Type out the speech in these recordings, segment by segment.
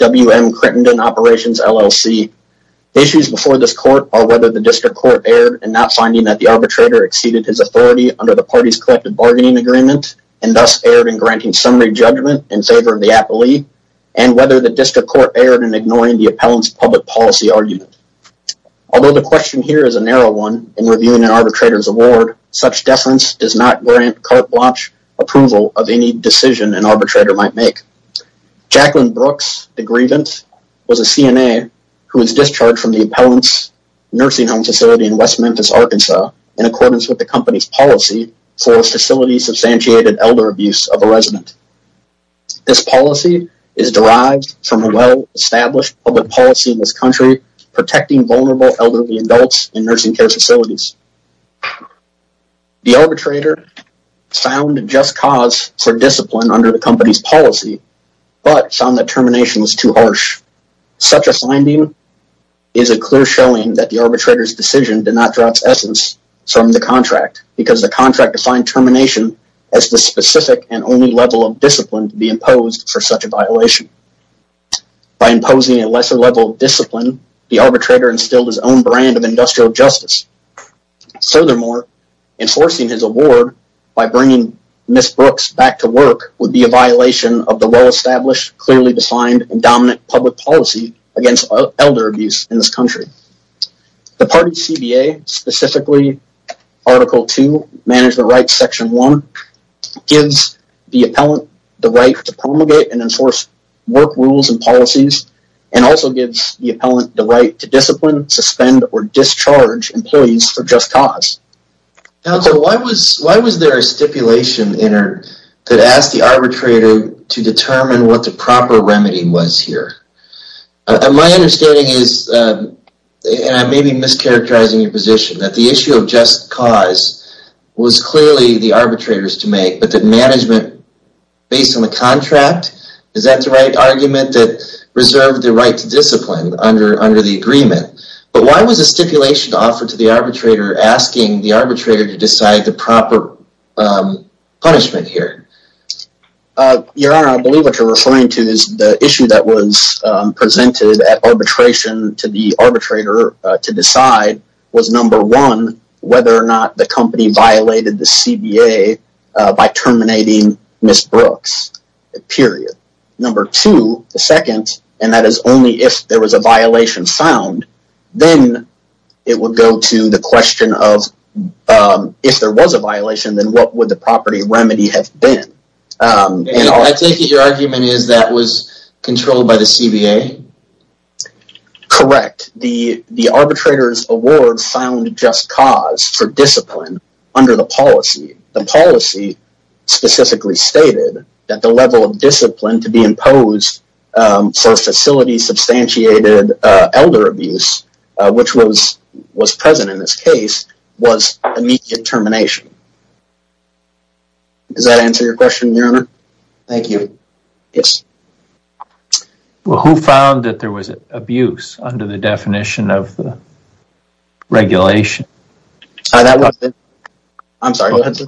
WM Crittenden Operations, LLC Issues before this court are whether the district court erred in not finding that the arbitrator exceeded his authority under the party's collective bargaining agreement and thus erred in granting summary judgment in favor of the appellee, and whether the district court erred in ignoring the appellant's public policy argument. Although the question here is a narrow one in reviewing an arbitrator's award, such deference does not grant carte blanche approval of any decision an arbitrator might make. Jacqueline Brooks, the grievant, was a CNA who was discharged from the appellant's nursing facility in West Memphis, Arkansas in accordance with the company's policy for facility-substantiated elder abuse of a resident. This policy is derived from a well-established public policy in this country protecting vulnerable elderly adults in nursing care facilities. The arbitrator found just cause for discipline under the company's policy, but found that termination was too harsh. Such a finding is a clear showing that the arbitrator's decision did not draw its essence from the contract, because the contract defined termination as the specific and only level of discipline to be imposed for such a violation. By imposing a lesser level of discipline, the arbitrator instilled his own brand of industrial justice. Furthermore, enforcing his award by bringing Ms. Brooks back to work would be a violation of the well-established, clearly defined, and dominant public policy against elder abuse in this country. The party's CBA, specifically Article 2, Management Rights Section 1, gives the appellant the right to promulgate and enforce work rules and policies, and also gives the appellant the right to discipline, suspend, or discharge employees for just cause. Counsel, why was there a stipulation entered that asked the arbitrator to determine what the proper remedy was here? My understanding is, and I may be mischaracterizing your position, that the issue of just cause was clearly the arbitrator's to make, but that management, based on the contract, is that the right argument that reserved the right to discipline under the agreement? But why was a stipulation offered to the arbitrator asking the arbitrator to decide the proper punishment here? Your Honor, I believe what you're referring to is the issue that was presented at arbitration to the arbitrator to decide was number one, whether or not the company violated the CBA by terminating Ms. Brooks, period. Number two, the second, and that is only if there was a violation found, then it would go to the question of, if there was a violation, then what would the property remedy have been? I take it your argument is that was controlled by the CBA? Correct. The arbitrator's award found just cause for discipline under the policy. The policy specifically stated that the level of discipline to be imposed for facility-substantiated elder abuse, which was present in this case, was immediate termination. Does that answer your question, Your Honor? Thank you. Yes. Well, who found that there was abuse under the definition of regulation? I'm sorry, go ahead, sir.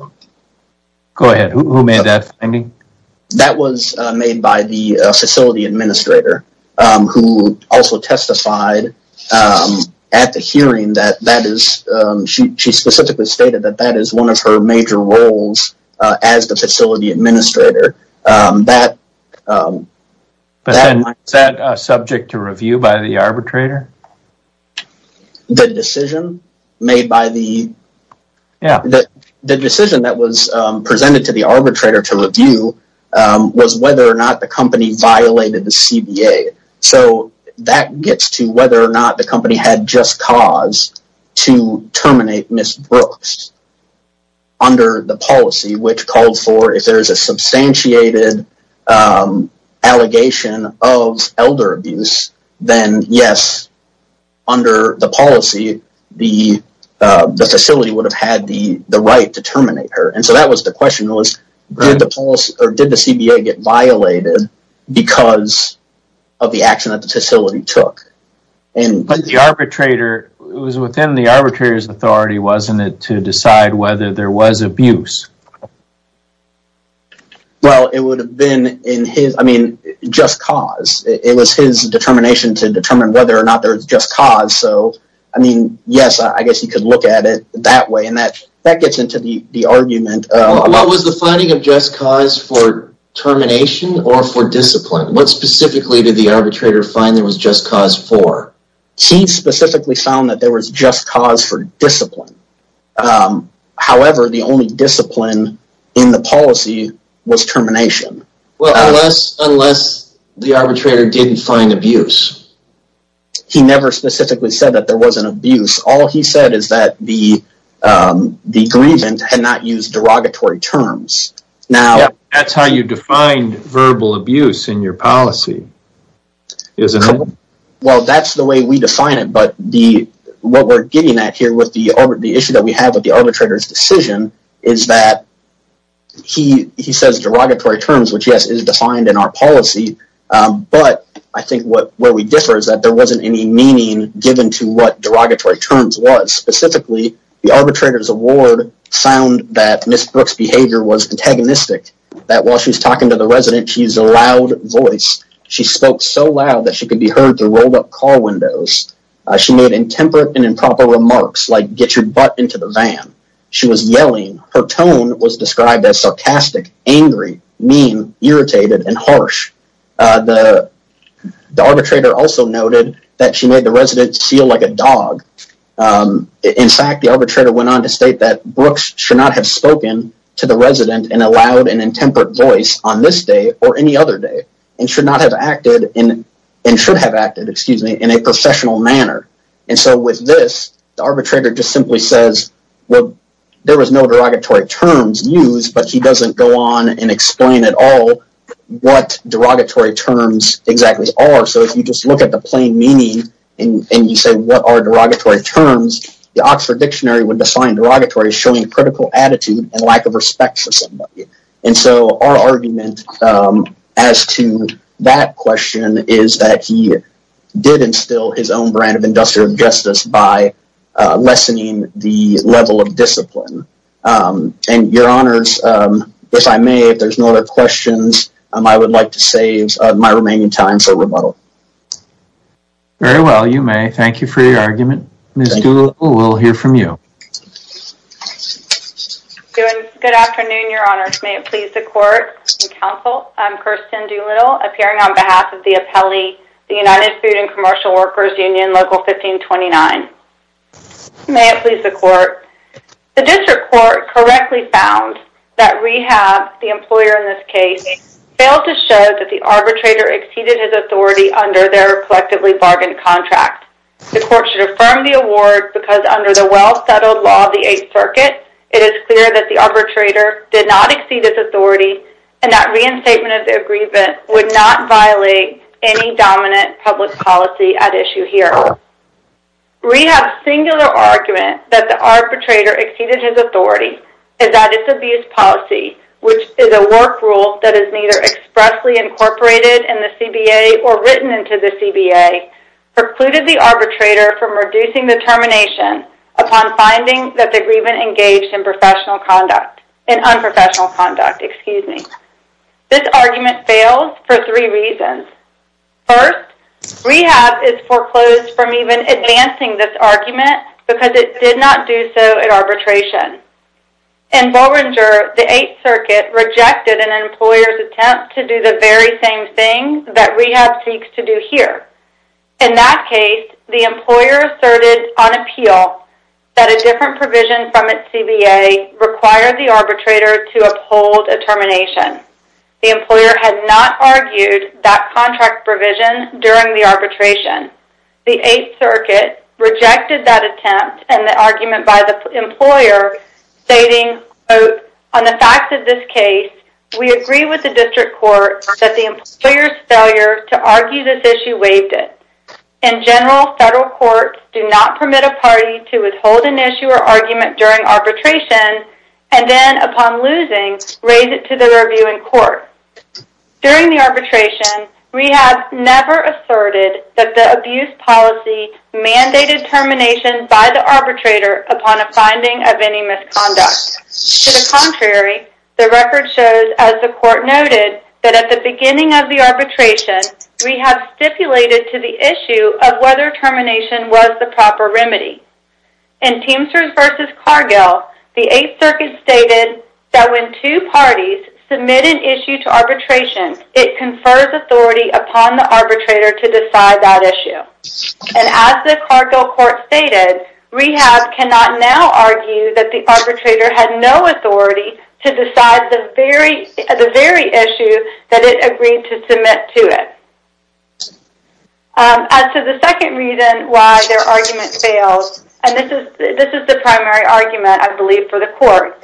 Go ahead. Who made that finding? That was made by the facility administrator, who also testified at the hearing that that is, she specifically stated that that is one of her major roles as the facility administrator. Is that subject to review by the arbitrator? The decision made by the, the decision that was presented to the arbitrator to review was whether or not the company violated the CBA. So that gets to whether or not the company had just cause to terminate Ms. Brooks under the policy, which called for, if there is a substantiated allegation of elder abuse, then yes, under the policy, the facility would have had the right to terminate her. And so that was the question was, did the CBA get violated because of the action that the facility took? But the arbitrator, it was within the arbitrator's authority, wasn't it, to decide whether there was abuse? Well, it would have been in his, I mean, just cause. It was his determination to determine whether or not there was just cause. So, I mean, yes, I guess you could look at it that way. And that gets into the argument. What was the finding of just cause for termination or for discipline? What specifically did the arbitrator find there was just cause for? He specifically found that there was just cause for discipline. However, the only discipline in the policy was termination. Well, unless the arbitrator didn't find abuse. He never specifically said that there wasn't abuse. All he said is that the grievance had not used derogatory terms. That's how you define verbal abuse in your policy. Well, that's the way we define it. But what we're getting at here with the issue that we have with the arbitrator's decision is that he says derogatory terms, which, yes, is defined in our policy. But I think where we differ is that there wasn't any meaning given to what derogatory terms was. Specifically, the arbitrator's award found that Ms. Brooks' behavior was antagonistic. That while she was talking to the resident, she used a loud voice. She spoke so loud that she could be heard through rolled up car windows. She made intemperate and improper remarks like, get your butt into the van. She was yelling. Her tone was described as sarcastic, angry, mean, irritated, and harsh. The arbitrator also noted that she made the resident feel like a dog. In fact, the arbitrator went on to state that Brooks should not have spoken to the resident in a loud and intemperate voice on this day or any other day. And should not have acted in, and should have acted, excuse me, in a professional manner. And so with this, the arbitrator just simply says, well, there was no derogatory terms used. But he doesn't go on and explain at all what derogatory terms exactly are. So if you just look at the plain meaning and you say, what are derogatory terms? The Oxford Dictionary would define derogatory as showing critical attitude and lack of respect for somebody. And so our argument as to that question is that he did instill his own brand of industrial justice by lessening the level of discipline. And your honors, if I may, if there's no other questions, I would like to save my remaining time for rebuttal. Very well, you may. Thank you for your argument. Ms. Doolittle, we'll hear from you. Good afternoon, your honors. May it please the court and counsel. I'm Kirsten Doolittle, appearing on behalf of the appellee, the United Food and Commercial Workers Union, Local 1529. May it please the court. The district court correctly found that rehab, the employer in this case, failed to show that the arbitrator exceeded his authority under their collectively bargained contract. The court should affirm the award because under the well-settled law of the Eighth Circuit, it is clear that the arbitrator did not exceed his authority and that reinstatement of the agreement would not violate any dominant public policy at issue here. Rehab's singular argument that the arbitrator exceeded his authority is that its abuse policy, which is a work rule that is neither expressly incorporated in the CBA or written into the CBA, precluded the arbitrator from reducing the termination upon finding that the agreement engaged in professional conduct, in unprofessional conduct, excuse me. This argument fails for three reasons. First, rehab is foreclosed from even advancing this argument because it did not do so at arbitration. In Bollinger, the Eighth Circuit rejected an employer's attempt to do the very same thing that rehab seeks to do here. In that case, the employer asserted on appeal that a different provision from its CBA required the arbitrator to uphold a termination. The employer had not argued that contract provision during the arbitration. The Eighth Circuit rejected that attempt and the argument by the employer stating quote, on the facts of this case, we agree with the district court that the employer's failure to argue this issue waived it. In general, federal courts do not permit a party to withhold an issue or argument during arbitration and then upon losing, raise it to the review in court. During the arbitration, rehab never asserted that the abuse policy mandated termination by the arbitrator upon a finding of any misconduct. To the contrary, the record shows, as the court noted, that at the beginning of the arbitration, rehab stipulated to the issue of whether termination was the proper remedy. In Teamsters v. Cargill, the Eighth Circuit stated that when two parties submit an issue to arbitration, it confers authority upon the arbitrator to decide that issue. And as the Cargill court stated, rehab cannot now argue that the arbitrator had no authority to decide the very issue that it agreed to submit to it. As to the second reason why their argument failed, and this is the primary argument, I believe, for the court.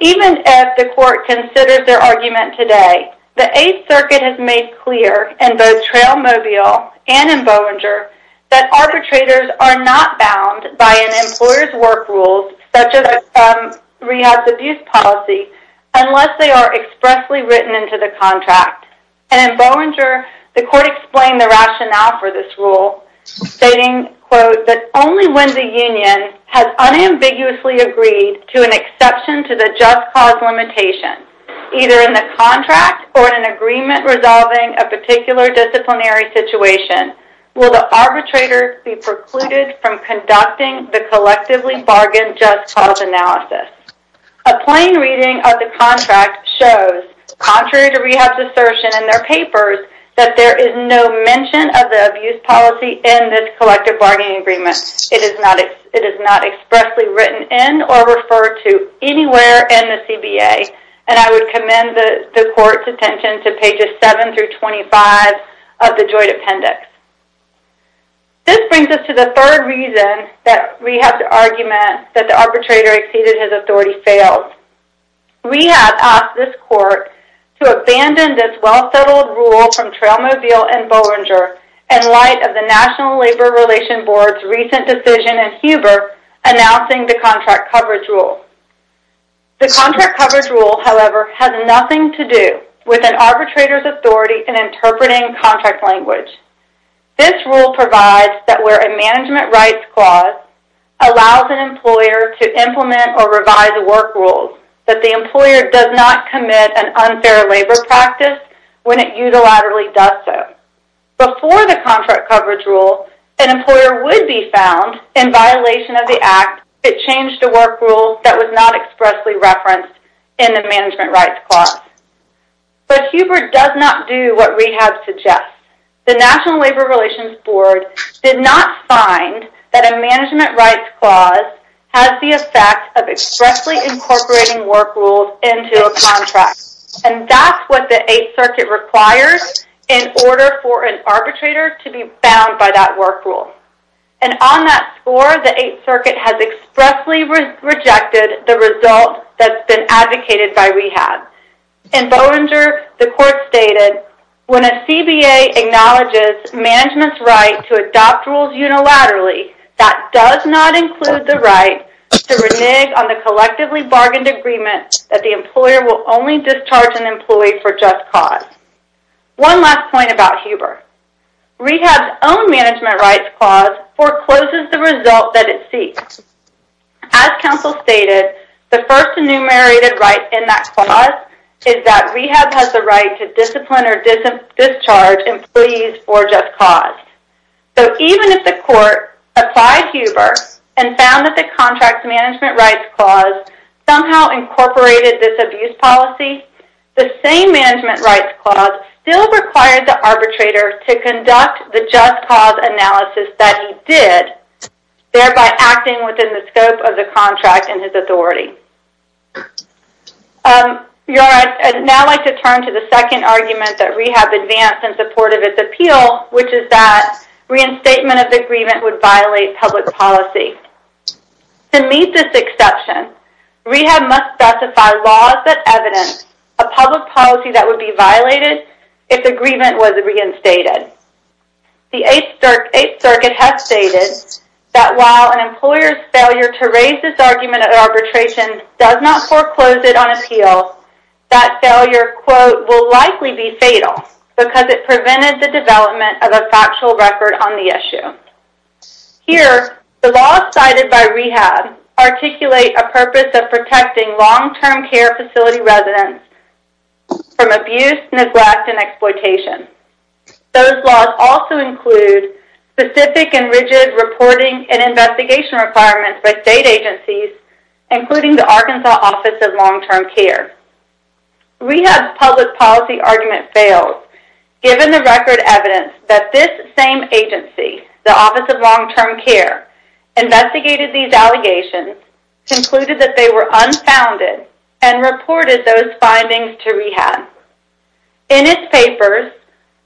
Even if the court considers their argument today, the Eighth Circuit has made clear in both Trailmobile and in Bollinger that arbitrators are not bound by an employer's work rules such as a rehab's abuse policy unless they are expressly written into the contract. And in Bollinger, the court explained the rationale for this rule, stating that only when the union has unambiguously agreed to an exception to the just cause limitation, either in the contract or in an agreement resolving a particular disciplinary situation, will the arbitrator be precluded from conducting the collectively bargained just cause analysis. A plain reading of the contract shows, contrary to rehab's assertion in their papers, that there is no mention of the abuse policy in this collective bargaining agreement. It is not expressly written in or referred to anywhere in the CBA. And I would commend the court's attention to pages 7 through 25 of the joint appendix. This brings us to the third reason that rehab's argument that the arbitrator exceeded his authority failed. Rehab asked this court to abandon this well-settled rule from Trailmobile and Bollinger in light of the National Labor Relations Board's recent decision in Huber announcing the contract coverage rule. The contract coverage rule, however, has nothing to do with an arbitrator's authority in interpreting contract language. This rule provides that where a management rights clause allows an employer to implement or revise a work rule that the employer does not commit an unfair labor practice when it unilaterally does so. Before the contract coverage rule, an employer would be found in violation of the act if it changed a work rule that was not expressly referenced in the management rights clause. But Huber does not do what rehab suggests. The National Labor Relations Board did not find that a management rights clause has the effect of expressly incorporating work rules into a contract. And that's what the Eighth Circuit requires in order for an arbitrator to be bound by that work rule. And on that score, the Eighth Circuit has expressly rejected the result that's been advocated by rehab. In Bollinger, the court stated, when a CBA acknowledges management's right to adopt rules unilaterally, that does not include the right to renege on the collectively bargained agreement that the employer will only discharge an employee for just cause. One last point about Huber. Rehab's own management rights clause forecloses the result that it seeks. As counsel stated, the first enumerated right in that has the right to discipline or discharge employees for just cause. So even if the court applied Huber and found that the contract's management rights clause somehow incorporated this abuse policy, the same management rights clause still required the arbitrator to conduct the just cause analysis that he did, thereby acting within the scope of the contract and his authority. I'd now like to turn to the second argument that rehab advanced in support of its appeal, which is that reinstatement of the agreement would violate public policy. To meet this exception, rehab must specify laws that evidence a public policy that would be violated if the agreement was reinstated. The Eighth Circuit has stated that while an employer's failure to raise this argument at arbitration does not foreclose it on appeal, that failure, quote, will likely be fatal because it prevented the development of a factual record on the issue. Here, the laws cited by rehab articulate a purpose of protecting long-term care facility residents from abuse, neglect, and exploitation. Those laws also include specific and rigid reporting and investigation requirements by state agencies, including the Arkansas Office of Long-Term Care. Rehab's public policy argument failed, given the record evidence that this same agency, the Office of Long-Term Care, investigated these allegations, concluded that they were unfounded, and reported those findings to rehab. In its papers,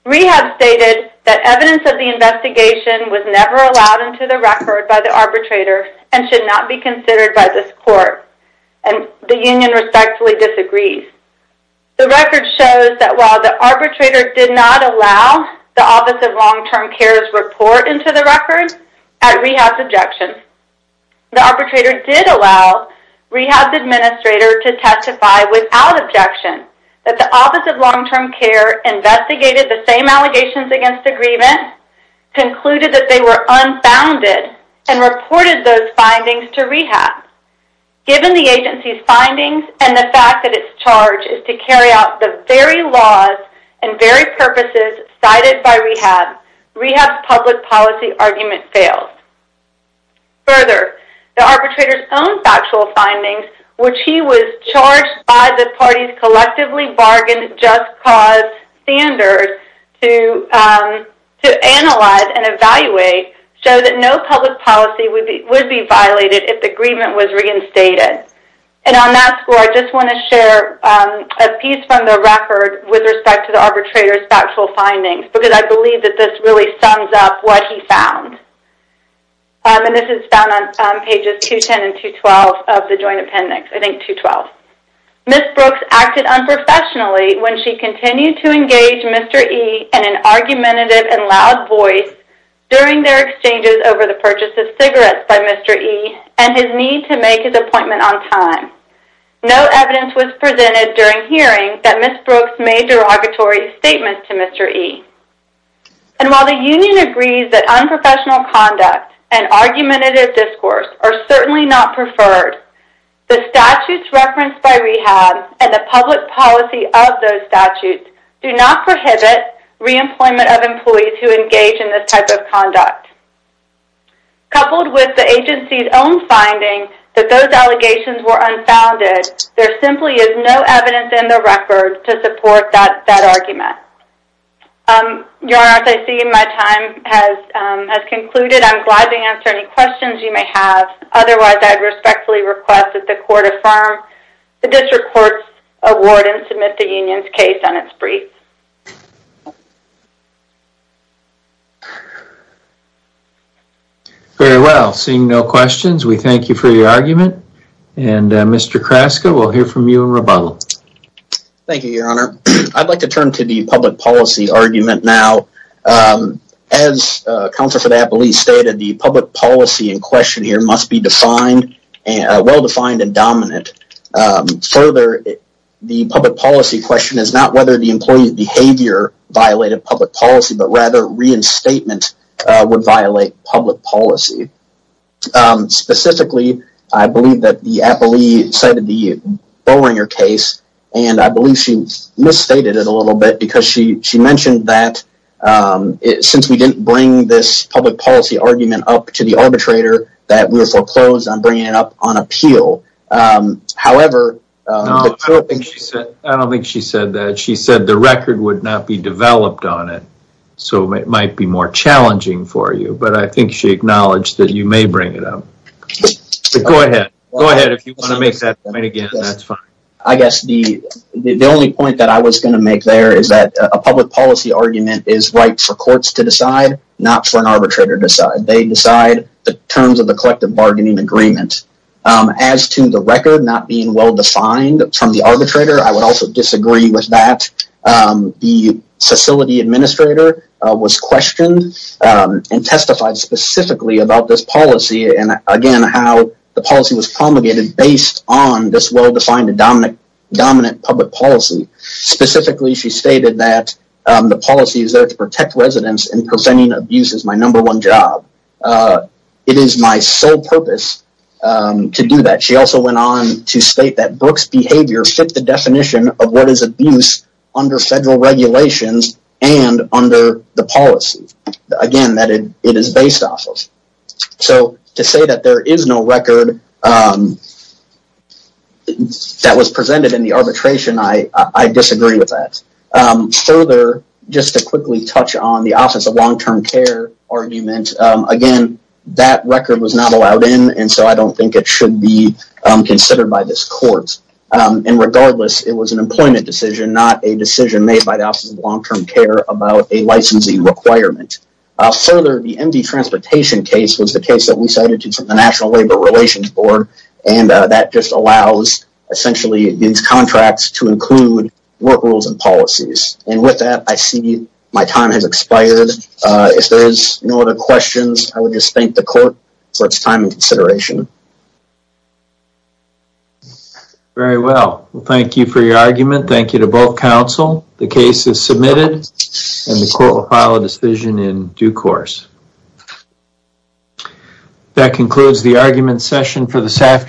rehab stated that evidence of the investigation was never allowed into the record by the arbitrator and should not be considered by this court, and the union respectfully disagrees. The record shows that while the arbitrator did not allow the Office of Long-Term Care's report into the record at rehab's objection, the arbitrator did allow rehab's administrator to testify without objection that the Office of Long-Term Care investigated the same allegations against agreement, concluded that they were unfounded, and reported those findings to rehab. Given the agency's findings and the fact that its charge is to carry out the very laws and very purposes cited by rehab, rehab's public policy argument failed. Further, the arbitrator's own factual findings, which he was charged by the party's collectively bargained just cause standard to analyze and evaluate, show that no public policy would be violated if the agreement was reinstated. And on that score, I just want to share a piece from the record with respect to the arbitrator's factual findings, because I believe that this really sums up what he found. And this is found on pages 210 and 212 of the joint appendix, I think 212. Ms. Brooks acted unprofessionally when she continued to engage Mr. E in an argumentative and loud voice during their exchanges over the purchase of cigarettes by Mr. E and his need to make his appointment on time. No evidence was presented during hearing that Ms. Brooks made derogatory statements to Mr. E. And while the union agrees that unprofessional conduct and argumentative discourse are certainly not preferred, the statutes referenced by REHAB and the public policy of those statutes do not prohibit reemployment of employees who engage in this type of conduct. Coupled with the agency's own finding that those allegations were unfounded, there simply is no evidence in the record to support that argument. Your Honor, as I see my time has concluded, I'm glad to answer any questions you may have. Otherwise, I'd respectfully request that the court affirm the district court's award and submit the union's case on its brief. Very well. Seeing no questions, we thank you for your argument. And Mr. Kraska, we'll hear from you in rebuttal. Thank you, Your Honor. I'd like to turn to the public policy argument now. As Counselor Fidapoli stated, the public policy in question here must be well-defined and dominant. Further, the public policy question is not whether the employee's behavior violated public policy, but rather reinstatement would violate public policy. Specifically, I believe that the appellee cited the Boehringer case and I believe she misstated it a little bit because she mentioned that since we didn't bring this public policy argument up to the arbitrator, that we foreclosed on bringing it up on appeal. However, I don't think she said that. She said the record would not be developed on it, so it might be more challenging for you, but I think she acknowledged that you may bring it up. Go ahead. Go ahead if you want to make that point again, that's fine. I guess the only point that I was going to make there is that a public policy argument is right for courts to decide, not for an arbitrator to decide. They decide the terms of the collective bargaining agreement. As to the record not being well-defined from the arbitrator, I would also disagree with that. The facility administrator was questioned and testified specifically about this policy and again how the policy was promulgated based on this well-defined and dominant public policy. Specifically, she stated that the policy is there to protect residents and preventing abuse is my number one job. It is my sole purpose to do that. She also went on to state that Brooks' behavior fit the definition of what is abuse under federal regulations and under the policy. Again, that it is based off of. To say that there is no record that was presented in the arbitration, I disagree with that. Further, just to quickly touch on the Office of Long-Term Care argument, again, that record was not allowed in so I don't think it should be considered by this court. Regardless, it was an employment decision, not a decision made by the Office of Long-Term Care about a licensing requirement. Further, the MD Transportation case was the case that we cited to the National Labor Relations Board and that just allows essentially these contracts to be used. With that, I see my time has expired. If there is no other questions, I would just thank the court for its time and consideration. Very well. Thank you for your argument. Thank you to both counsel. The case is submitted and the court will file a decision in due course. That concludes the argument session for this afternoon.